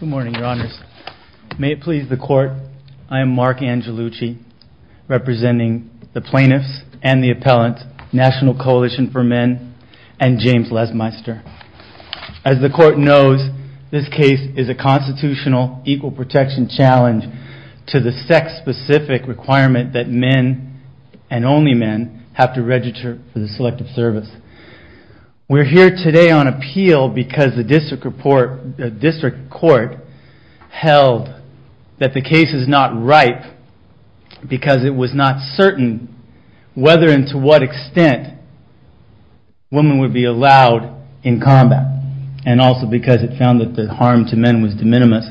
Good morning, Your Honors. May it please the Court, I am Mark Angelucci, representing the Plaintiffs and the Appellants, National Coalition for Men, and James Lesmeister. As the Court knows, this case is a constitutional equal protection challenge to the sex-specific requirement that men, and only men, have to register for the Selective Service. We are here today on appeal because the District Court held that the case is not ripe because it was not certain whether and to what extent women would be allowed in combat, and also because it found that the harm to men was de minimis.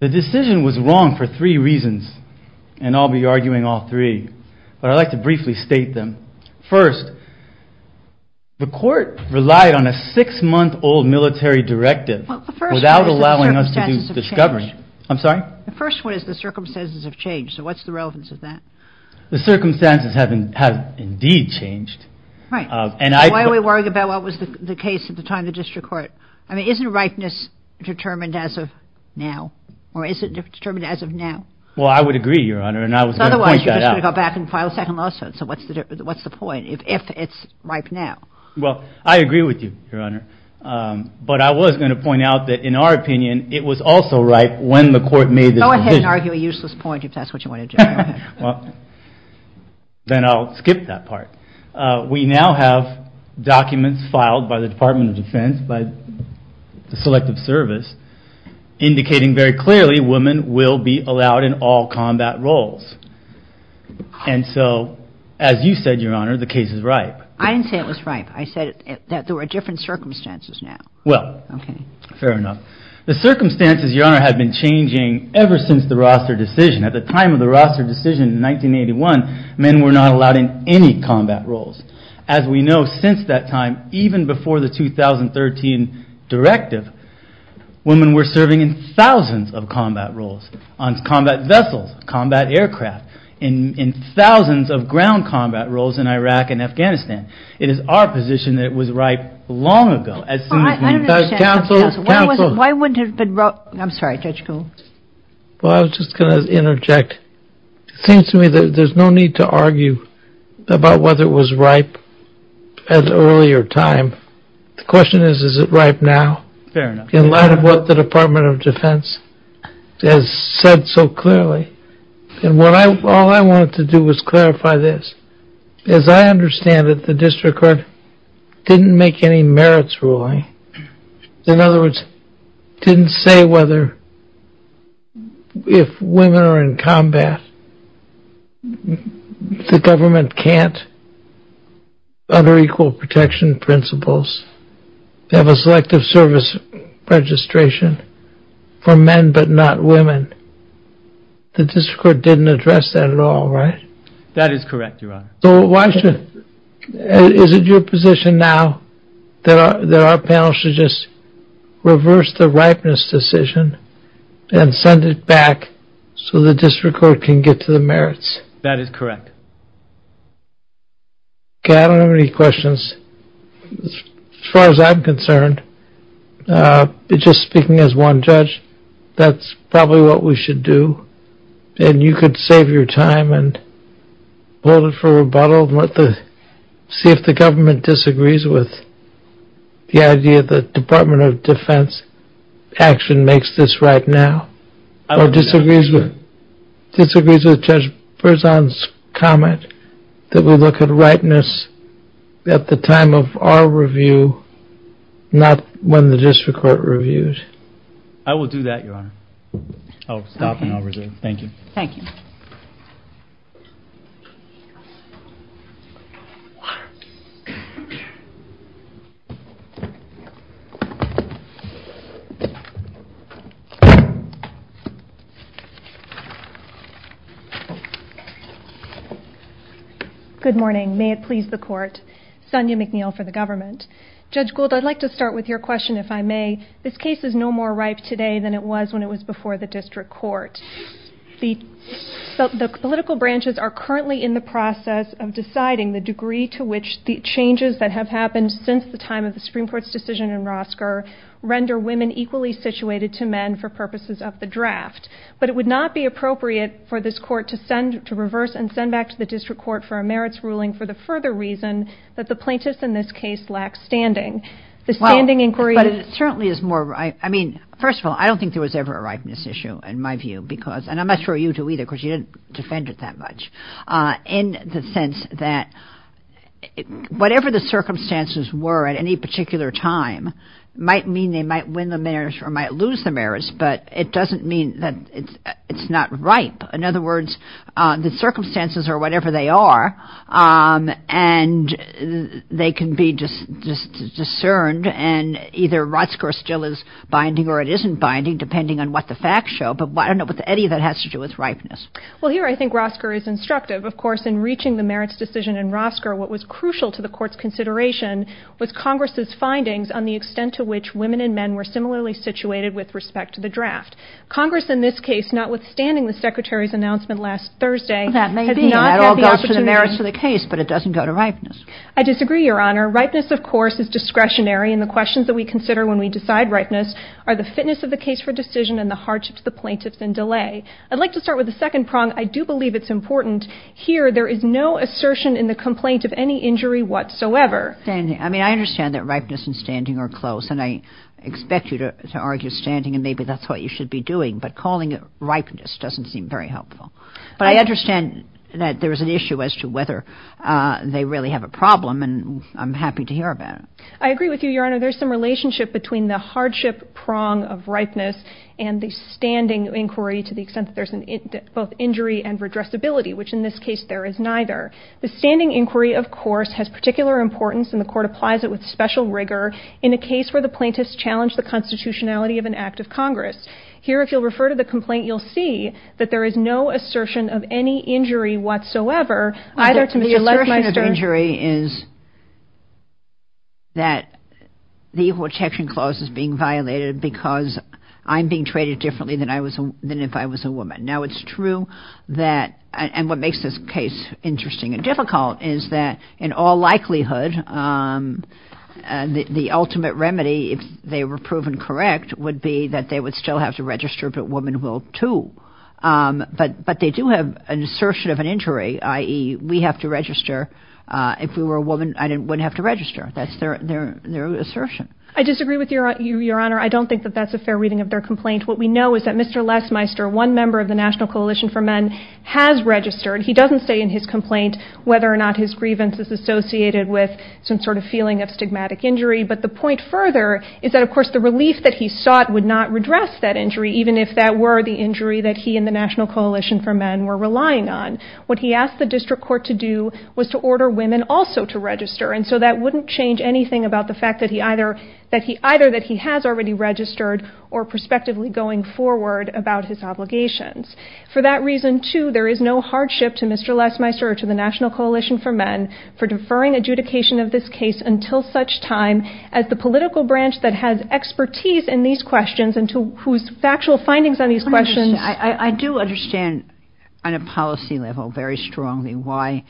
The decision was wrong for three reasons, and I'll be arguing all three, but I'd like to briefly state them. First, the Court relied on a six-month-old military directive without allowing us to do discovery. The first one is the circumstances have changed, so what's the relevance of that? The circumstances have indeed changed. Why are we worrying about what was the case at the time of the District Court? I mean, isn't ripeness determined as of now, or is it determined as of now? Well, I would agree, Your Honor, and I was going to point that out. Otherwise, you're just going to go back and file a second lawsuit, so what's the point, if it's ripe now? Well, I agree with you, Your Honor, but I was going to point out that, in our opinion, it was also ripe when the Court made the decision. Go ahead and argue a useless point if that's what you want to do. Then I'll skip that part. We now have documents filed by the Department of Defense, by the Selective Service, indicating very clearly women will be allowed in all combat roles. And so, as you said, Your Honor, the case is ripe. I didn't say it was ripe. I said that there were different circumstances now. Well, fair enough. The circumstances, Your Honor, have been changing ever since the Roster decision. At the time of the Roster decision in 1981, men were not allowed in any combat roles. As we know, since that time, even before the 2013 directive, women were serving in thousands of combat roles on combat vessels, combat aircraft, in thousands of ground combat roles in Iraq and Afghanistan. It is our position that it was ripe long ago. Counsel, counsel. Why wouldn't it have been ripe? I'm sorry, Judge Gould. Well, I was just going to interject. It seems to me that there's no need to argue about whether it was ripe at an earlier time. The question is, is it ripe now? Fair enough. In light of what the Department of Defense has said so clearly. All I wanted to do was clarify this. As I understand it, the district court didn't make any merits ruling. In other words, didn't say whether if women are in combat, the government can't, under equal protection principles, have a selective service registration for men but not women. The district court didn't address that at all, right? That is correct, Your Honor. Is it your position now that our panel should just reverse the ripeness decision and send it back so the district court can get to the merits? That is correct. Okay, I don't have any questions. As far as I'm concerned, just speaking as one judge, that's probably what we should do. And you could save your time and hold it for rebuttal and see if the government disagrees with the idea that Department of Defense action makes this right now. Or disagrees with Judge Berzon's comment that we look at ripeness at the time of our review, not when the district court reviews. I will do that, Your Honor. I'll stop and I'll resume. Thank you. Thank you. Good morning. May it please the court. Sonia McNeil for the government. Judge Gould, I'd like to start with your question, if I may. This case is no more ripe today than it was when it was before the district court. The political branches are currently in the process of deciding the degree to which the changes that have happened since the time of the Supreme Court's decision in Rosker render women equally situated to men for purposes of the draft. But it would not be appropriate for this court to reverse and send back to the district court for a merits ruling for the further reason that the plaintiffs in this case lack standing. But it certainly is more, I mean, first of all, I don't think there was ever a ripeness issue in my view because, and I'm not sure you do either because you didn't defend it that much, in the sense that whatever the circumstances were at any particular time might mean they might win the merits or might lose the merits, but it doesn't mean that it's not ripe. In other words, the circumstances are whatever they are and they can be just discerned and either Rosker still is binding or it isn't binding depending on what the facts show. But I don't know if any of that has to do with ripeness. Well, here I think Rosker is instructive. Of course, in reaching the merits decision in Rosker, what was crucial to the court's consideration was Congress's findings on the extent to which women and men were similarly situated with respect to the draft. Congress in this case, notwithstanding the Secretary's announcement last Thursday, has not had the opportunity. That may be. That all goes to the merits of the case, but it doesn't go to ripeness. I disagree, Your Honor. Ripeness, of course, is discretionary and the questions that we consider when we decide ripeness are the fitness of the case for decision and the hardship to the plaintiffs in delay. I'd like to start with the second prong. I do believe it's important here there is no assertion in the complaint of any injury whatsoever. I mean, I understand that ripeness and standing are close and I expect you to argue standing and maybe that's what you should be doing, but calling it ripeness doesn't seem very helpful. But I understand that there is an issue as to whether they really have a problem and I'm happy to hear about it. I agree with you, Your Honor. There's some relationship between the hardship prong of ripeness and the standing inquiry to the extent that there's both injury and redressability, which in this case there is neither. The standing inquiry, of course, has particular importance and the court applies it with special rigor in a case where the plaintiffs challenge the constitutionality of an act of Congress. Here, if you'll refer to the complaint, you'll see that there is no assertion of any injury whatsoever. The assertion of injury is that the Equal Protection Clause is being violated because I'm being treated differently than if I was a woman. Now, it's true that, and what makes this case interesting and difficult, is that in all likelihood the ultimate remedy, if they were proven correct, would be that they would still have to register, but women will too. But they do have an assertion of an injury, i.e., we have to register. If we were a woman, I wouldn't have to register. That's their assertion. I disagree with you, Your Honor. I don't think that that's a fair reading of their complaint. What we know is that Mr. Lesmeister, one member of the National Coalition for Men, has registered. He doesn't say in his complaint whether or not his grievance is associated with some sort of feeling of stigmatic injury, but the point further is that, of course, the relief that he sought would not redress that injury, even if that were the injury that he and the National Coalition for Men were relying on. What he asked the district court to do was to order women also to register, and so that wouldn't change anything about the fact that either he has already registered or prospectively going forward about his obligations. For that reason, too, there is no hardship to Mr. Lesmeister or to the National Coalition for Men for deferring adjudication of this case until such time as the political branch that has expertise in these questions and whose factual findings on these questions. I do understand on a policy level very strongly why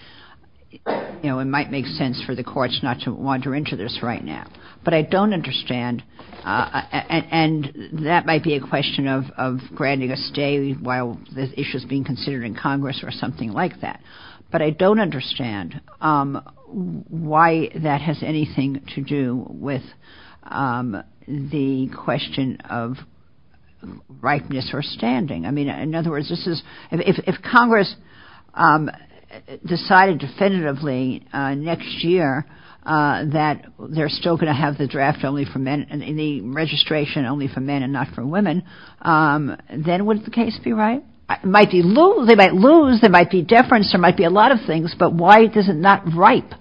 it might make sense for the courts not to wander into this right now, but I don't understand, and that might be a question of granting a stay while this issue is being considered in Congress or something like that, but I don't understand why that has anything to do with the question of rightness or standing. I mean, in other words, if Congress decided definitively next year that they're still going to have the draft only for men and the registration only for men and not for women, then would the case be right? They might lose, there might be deference, there might be a lot of things, but why is it not ripe?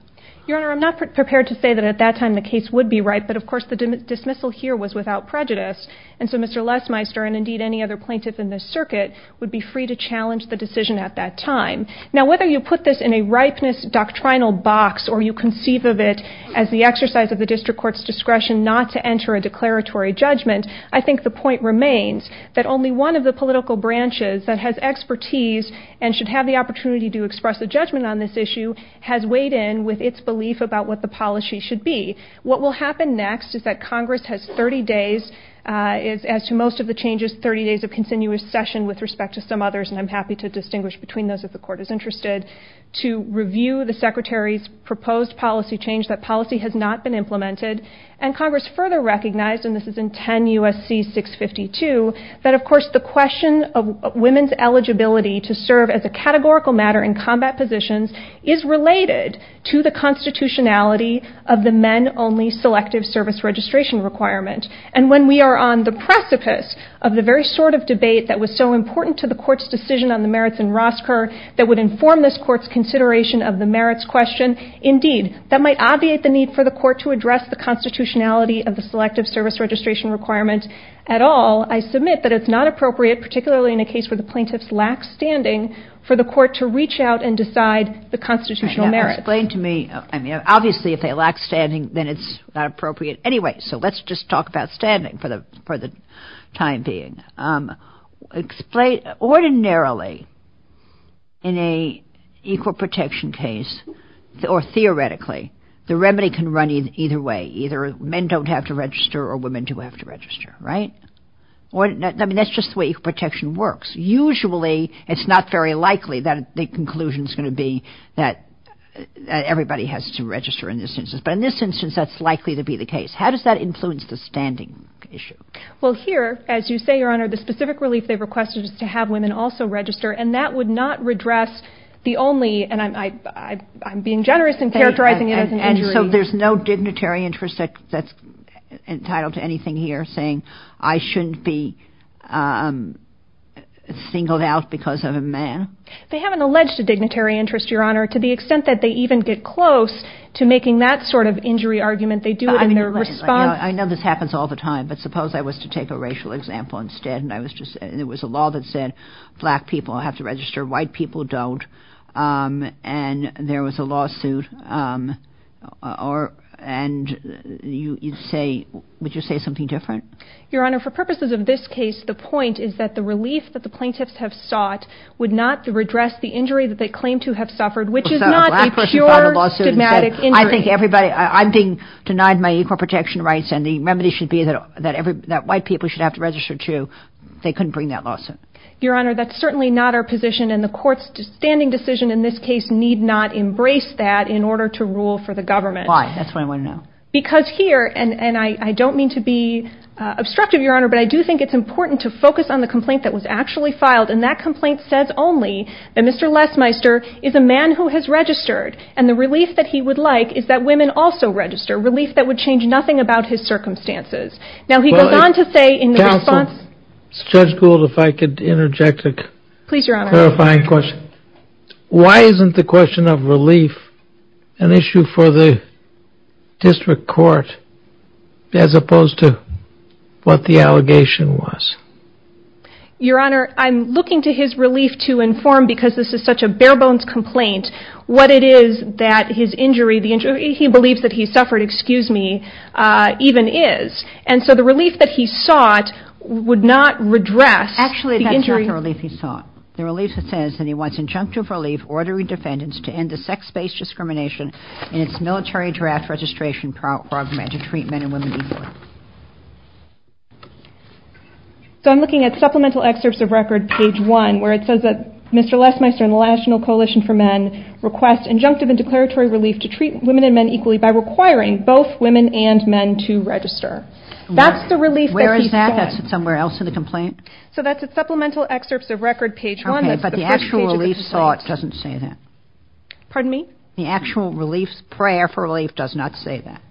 Your Honor, I'm not prepared to say that at that time the case would be ripe, but of course the dismissal here was without prejudice, and so Mr. Lesmeister and indeed any other plaintiff in this circuit would be free to challenge the decision at that time. Now, whether you put this in a ripeness doctrinal box or you conceive of it as the exercise of the district court's discretion not to enter a declaratory judgment, I think the point remains that only one of the political branches that has expertise and should have the opportunity to express a judgment on this issue has weighed in with its belief about what the policy should be. What will happen next is that Congress has 30 days, as to most of the changes, 30 days of continuous session with respect to some others, and I'm happy to distinguish between those if the court is interested, to review the Secretary's proposed policy change that policy has not been implemented, and Congress further recognized, and this is in 10 U.S.C. 652, that of course the question of women's eligibility to serve as a categorical matter in combat positions is related to the constitutionality of the men-only selective service registration requirement, and when we are on the precipice of the very sort of debate that was so important to the court's decision on the merits in Rosker that would inform this court's consideration of the merits question, indeed, that might obviate the need for the court to address the constitutionality of the selective service registration requirement at all. I submit that it's not appropriate, particularly in a case where the plaintiffs lack standing, for the court to reach out and decide the constitutional merits. Explain to me, obviously if they lack standing then it's not appropriate anyway, so let's just talk about standing for the time being. Ordinarily, in an equal protection case, or theoretically, the remedy can run either way, either men don't have to register or women do have to register, right? I mean that's just the way equal protection works. Usually it's not very likely that the conclusion is going to be that everybody has to register in this instance, but in this instance that's likely to be the case. How does that influence the standing issue? Well, here, as you say, Your Honor, the specific relief they've requested is to have women also register, and that would not redress the only, and I'm being generous in characterizing it as an injury. So there's no dignitary interest that's entitled to anything here saying, I shouldn't be singled out because of a man? They haven't alleged a dignitary interest, Your Honor, to the extent that they even get close to making that sort of injury argument, they do it in their response. I know this happens all the time, but suppose I was to take a racial example instead, and it was a law that said black people have to register, white people don't, and there was a lawsuit, and you'd say, would you say something different? Your Honor, for purposes of this case, the point is that the relief that the plaintiffs have sought would not redress the injury that they claim to have suffered, which is not a pure stigmatic injury. I think everybody, I'm being denied my equal protection rights, and the remedy should be that white people should have to register too. They couldn't bring that lawsuit. Your Honor, that's certainly not our position, and the court's standing decision in this case need not embrace that in order to rule for the government. Why? That's what I want to know. Because here, and I don't mean to be obstructive, Your Honor, but I do think it's important to focus on the complaint that was actually filed, and that complaint says only that Mr. Lesmeister is a man who has registered, and the relief that he would like is that women also register, relief that would change nothing about his circumstances. Counsel, Judge Gould, if I could interject a clarifying question. Please, Your Honor. Why isn't the question of relief an issue for the district court as opposed to what the allegation was? Your Honor, I'm looking to his relief to inform, because this is such a bare-bones complaint, what it is that his injury, he believes that he suffered, excuse me, even is. And so the relief that he sought would not redress the injury. Actually, that's not the relief he sought. The relief says that he wants injunctive relief ordering defendants to end the sex-based discrimination in its military draft registration program to treat men and women equally. So I'm looking at supplemental excerpts of record, page one, where it says that Mr. Lesmeister and the National Coalition for Men request injunctive and declaratory relief to treat women and men equally by requiring both women and men to register. That's the relief that he sought. Where is that? That's somewhere else in the complaint? So that's at supplemental excerpts of record, page one. Okay, but the actual relief sought doesn't say that. Pardon me? The actual relief, prayer for relief does not say that.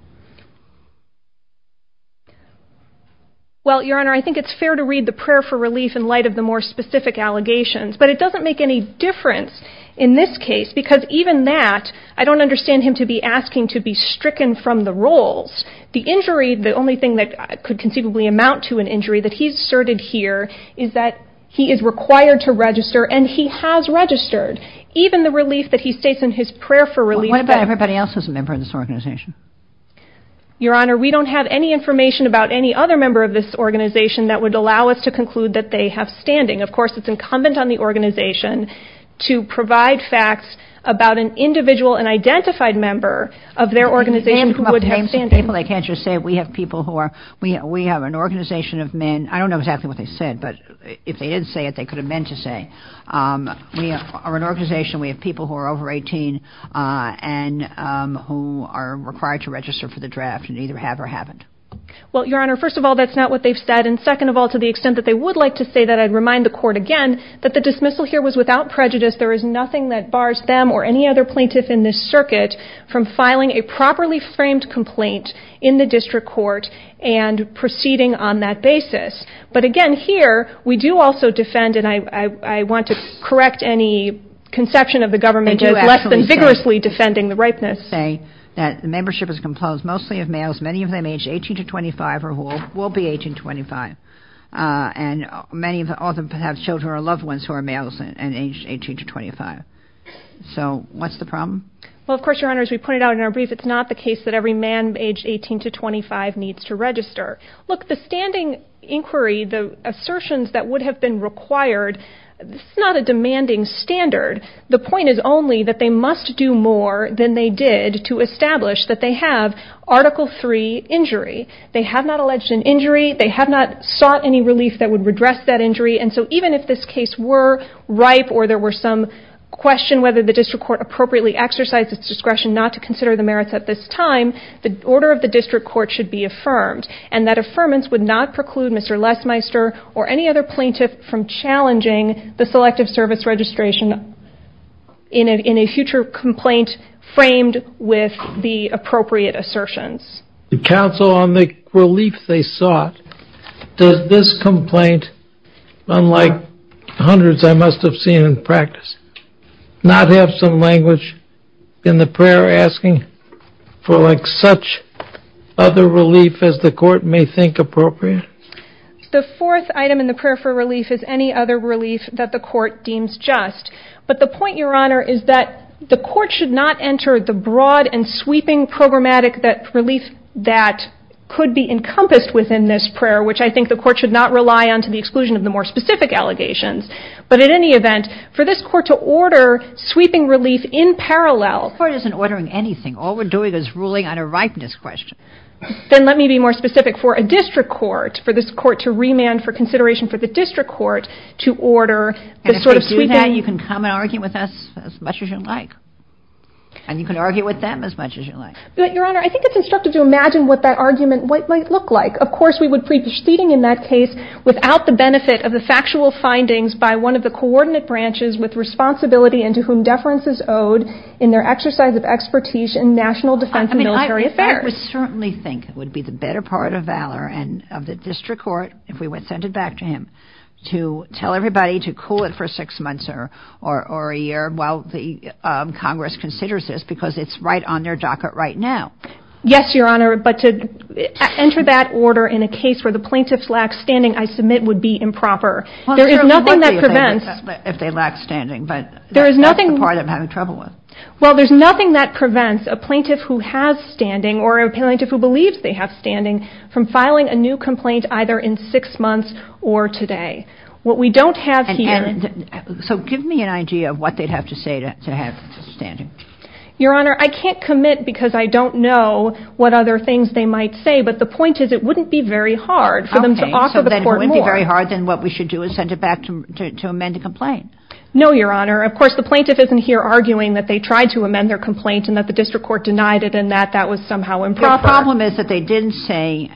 Well, Your Honor, I think it's fair to read the prayer for relief in light of the more specific allegations, but it doesn't make any difference in this case because even that, I don't understand him to be asking to be stricken from the roles. The injury, the only thing that could conceivably amount to an injury that he's asserted here is that he is required to register, and he has registered. Even the relief that he states in his prayer for relief. What about everybody else who's a member of this organization? Your Honor, we don't have any information about any other member of this organization that would allow us to conclude that they have standing. Of course, it's incumbent on the organization to provide facts about an individual and identified member of their organization who would have standing. I can't just say we have people who are, we have an organization of men, I don't know exactly what they said, but if they did say it, they could have meant to say. We are an organization, we have people who are over 18 and who are required to register for the draft and either have or haven't. Well, Your Honor, first of all, that's not what they've said, and second of all, to the extent that they would like to say that, I'd remind the court again, that the dismissal here was without prejudice. There is nothing that bars them or any other plaintiff in this circuit from filing a properly framed complaint in the district court and proceeding on that basis. But again, here, we do also defend, and I want to correct any conception of the government as less than vigorously defending the ripeness. I do actually say that the membership is composed mostly of males, many of them aged 18 to 25 or who will be aging 25, and many of them have children or loved ones who are males and aged 18 to 25. So, what's the problem? Well, of course, Your Honor, as we pointed out in our brief, it's not the case that every man aged 18 to 25 needs to register. Look, the standing inquiry, the assertions that would have been required, it's not a demanding standard. The point is only that they must do more than they did to establish that they have Article III injury. They have not alleged an injury, they have not sought any relief that would redress that injury, and so even if this case were ripe or there were some question whether the district court appropriately exercised its discretion not to consider the merits at this time, the order of the district court should be affirmed. And that affirmance would not preclude Mr. Lesmeister or any other plaintiff from challenging the Selective Service registration in a future complaint framed with the appropriate assertions. The counsel on the relief they sought, does this complaint, unlike hundreds I must have seen in practice, not have some language in the prayer asking for like such other relief as the court may think appropriate? The fourth item in the prayer for relief is any other relief that the court deems just. But the point, Your Honor, is that the court should not enter the broad and sweeping programmatic relief that could be encompassed within this prayer, which I think the court should not rely on to the exclusion of the more specific allegations. But at any event, for this court to order sweeping relief in parallel. The court isn't ordering anything. All we're doing is ruling on a ripeness question. Then let me be more specific. For a district court, for this court to remand for consideration for the district court to order the sort of sweeping. And if they do that, you can come and argue with us as much as you like. And you can argue with them as much as you like. But, Your Honor, I think it's instructive to imagine what that argument might look like. Of course, we would be proceeding in that case without the benefit of the factual findings by one of the coordinate branches with responsibility and to whom deference is owed in their exercise of expertise in national defense and military affairs. I would certainly think it would be the better part of valor and of the district court, if we would send it back to him, to tell everybody to cool it for six months or a year while the Congress considers this because it's right on their docket right now. Yes, Your Honor, but to enter that order in a case where the plaintiff lacks standing, I submit, would be improper. There is nothing that prevents... If they lack standing, but that's the part I'm having trouble with. Well, there's nothing that prevents a plaintiff who has standing or a plaintiff who believes they have standing from filing a new complaint either in six months or today. What we don't have here... So give me an idea of what they'd have to say to have standing. Your Honor, I can't commit because I don't know what other things they might say, but the point is it wouldn't be very hard for them to offer the court more. Okay, so then it wouldn't be very hard. Then what we should do is send it back to amend the complaint. No, Your Honor. Of course, the plaintiff isn't here arguing that they tried to amend their complaint and that the district court denied it and that that was somehow improper. The problem is that they didn't say,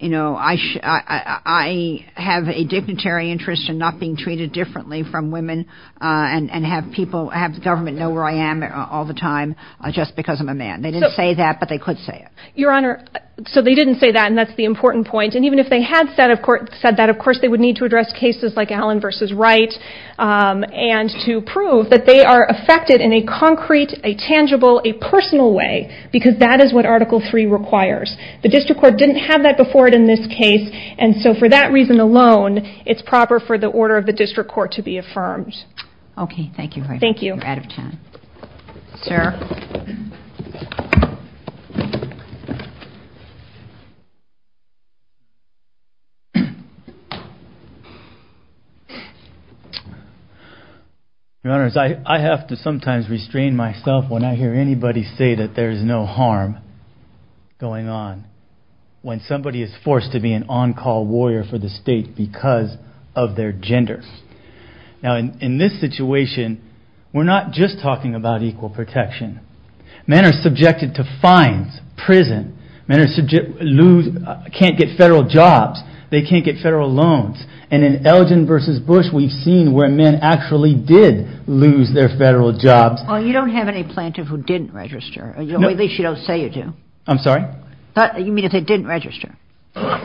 you know, I have a dignitary interest in not being treated differently from women and have the government know where I am all the time just because I'm a man. They didn't say that, but they could say it. Your Honor, so they didn't say that, and that's the important point. And even if they had said that, of course, they would need to address cases like Allen v. Wright and to prove that they are affected in a concrete, a tangible, a personal way because that is what Article III requires. The district court didn't have that before in this case, and so for that reason alone, it's proper for the order of the district court to be affirmed. Okay, thank you. Thank you. You're out of time. Sir? Your Honors, I have to sometimes restrain myself when I hear anybody say that there is no harm going on. When somebody is forced to be an on-call warrior for the state because of their gender. Now, in this situation, we're not just talking about equal protection. Men are subjected to fines, prison. Men can't get federal jobs. They can't get federal loans. And in Elgin v. Bush, we've seen where men actually did lose their federal jobs. Well, you don't have any plaintiff who didn't register. At least you don't say you do. I'm sorry? You mean if they didn't register.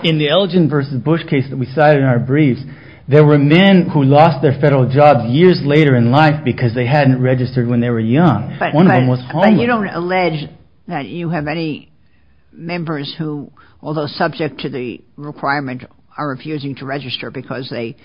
In the Elgin v. Bush case that we cited in our briefs, there were men who lost their federal jobs years later in life because they hadn't registered when they were young. One of them was homeless. But you don't allege that you have any members who, although subject to the requirement, are refusing to register because they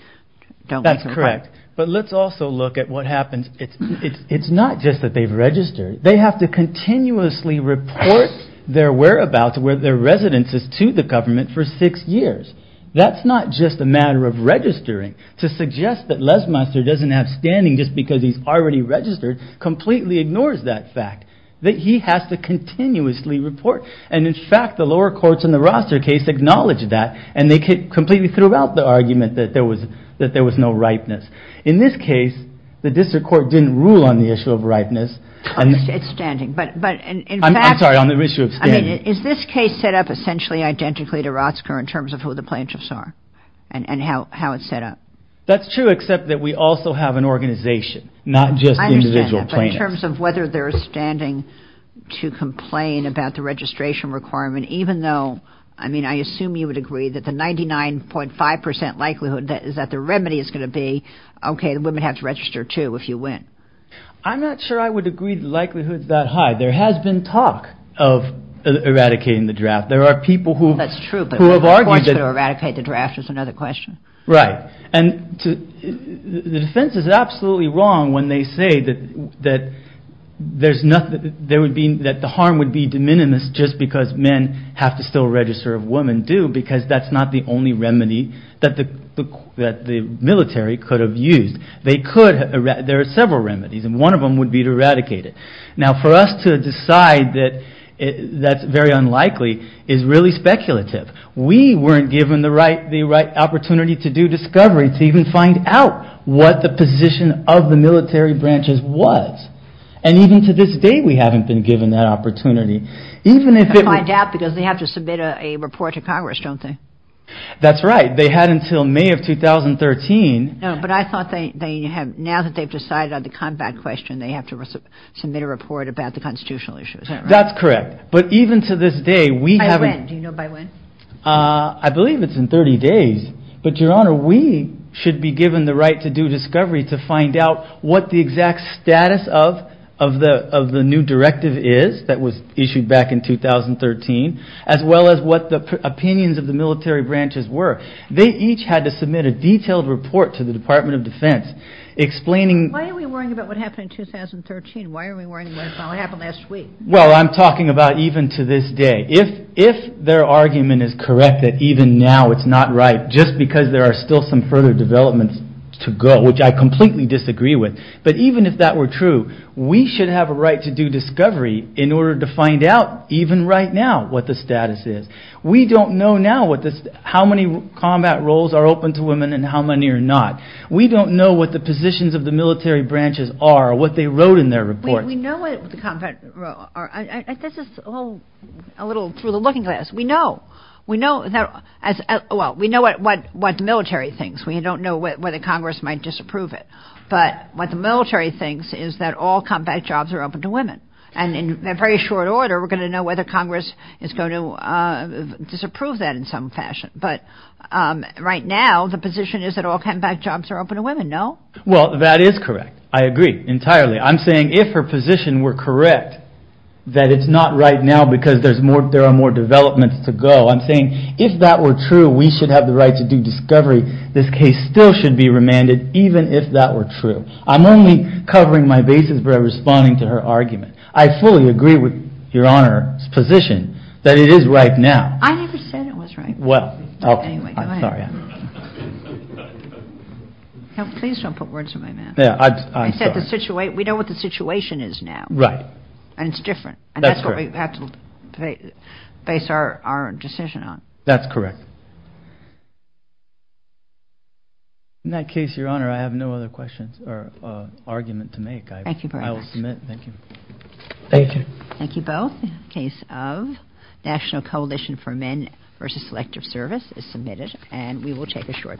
don't meet the requirement. That's correct. But let's also look at what happens. It's not just that they've registered. They have to continuously report their whereabouts, where their residence is, to the government for six years. That's not just a matter of registering. To suggest that Lesmester doesn't have standing just because he's already registered completely ignores that fact. That he has to continuously report. And, in fact, the lower courts in the Roster case acknowledge that and they completely threw out the argument that there was no ripeness. In this case, the district court didn't rule on the issue of ripeness. It's standing. I'm sorry, on the issue of standing. Is this case set up essentially identically to Rotsker in terms of who the plaintiffs are and how it's set up? That's true, except that we also have an organization, not just individual plaintiffs. I understand that. But in terms of whether they're standing to complain about the registration requirement, even though, I mean, I assume you would agree that the 99.5% likelihood is that the remedy is going to be, okay, the women have to register too if you win. I'm not sure I would agree that the likelihood is that high. There has been talk of eradicating the draft. There are people who have argued that. That's true, but of course to eradicate the draft is another question. Right. And the defense is absolutely wrong when they say that the harm would be de minimis just because men have to still register if women do because that's not the only remedy that the military could have used. There are several remedies, and one of them would be to eradicate it. Now for us to decide that that's very unlikely is really speculative. We weren't given the right opportunity to do discovery, to even find out what the position of the military branches was. And even to this day we haven't been given that opportunity. Find out because they have to submit a report to Congress, don't they? That's right. They had until May of 2013. No, but I thought now that they've decided on the combat question, they have to submit a report about the constitutional issues. That's correct, but even to this day we haven't. By when? Do you know by when? I believe it's in 30 days. But, Your Honor, we should be given the right to do discovery to find out what the exact status of the new directive is that was issued back in 2013 as well as what the opinions of the military branches were. They each had to submit a detailed report to the Department of Defense explaining Why are we worrying about what happened in 2013? Why are we worrying about what happened last week? Well, I'm talking about even to this day. If their argument is correct that even now it's not right, just because there are still some further developments to go, which I completely disagree with, but even if that were true, we should have a right to do discovery in order to find out, even right now, what the status is. We don't know now how many combat roles are open to women and how many are not. We don't know what the positions of the military branches are or what they wrote in their reports. We know what the combat roles are. This is all a little through the looking glass. We know what the military thinks. We don't know whether Congress might disapprove it. But what the military thinks is that all combat jobs are open to women. And in very short order, we're going to know whether Congress is going to disapprove that in some fashion. But right now, the position is that all combat jobs are open to women. No? Well, that is correct. I agree entirely. I'm saying if her position were correct, that it's not right now because there are more developments to go. I'm saying if that were true, we should have the right to do discovery. This case still should be remanded, even if that were true. I'm only covering my bases by responding to her argument. I fully agree with Your Honor's position that it is right now. I never said it was right. Well, okay. Anyway, go ahead. I'm sorry. Please don't put words in my mouth. I'm sorry. We know what the situation is now. Right. And it's different. That's correct. And that's what we have to base our decision on. That's correct. In that case, Your Honor, I have no other questions or argument to make. Thank you very much. I will submit. Thank you. Thank you. Thank you both. Case of National Coalition for Men versus Selective Service is submitted, and we will take a short break.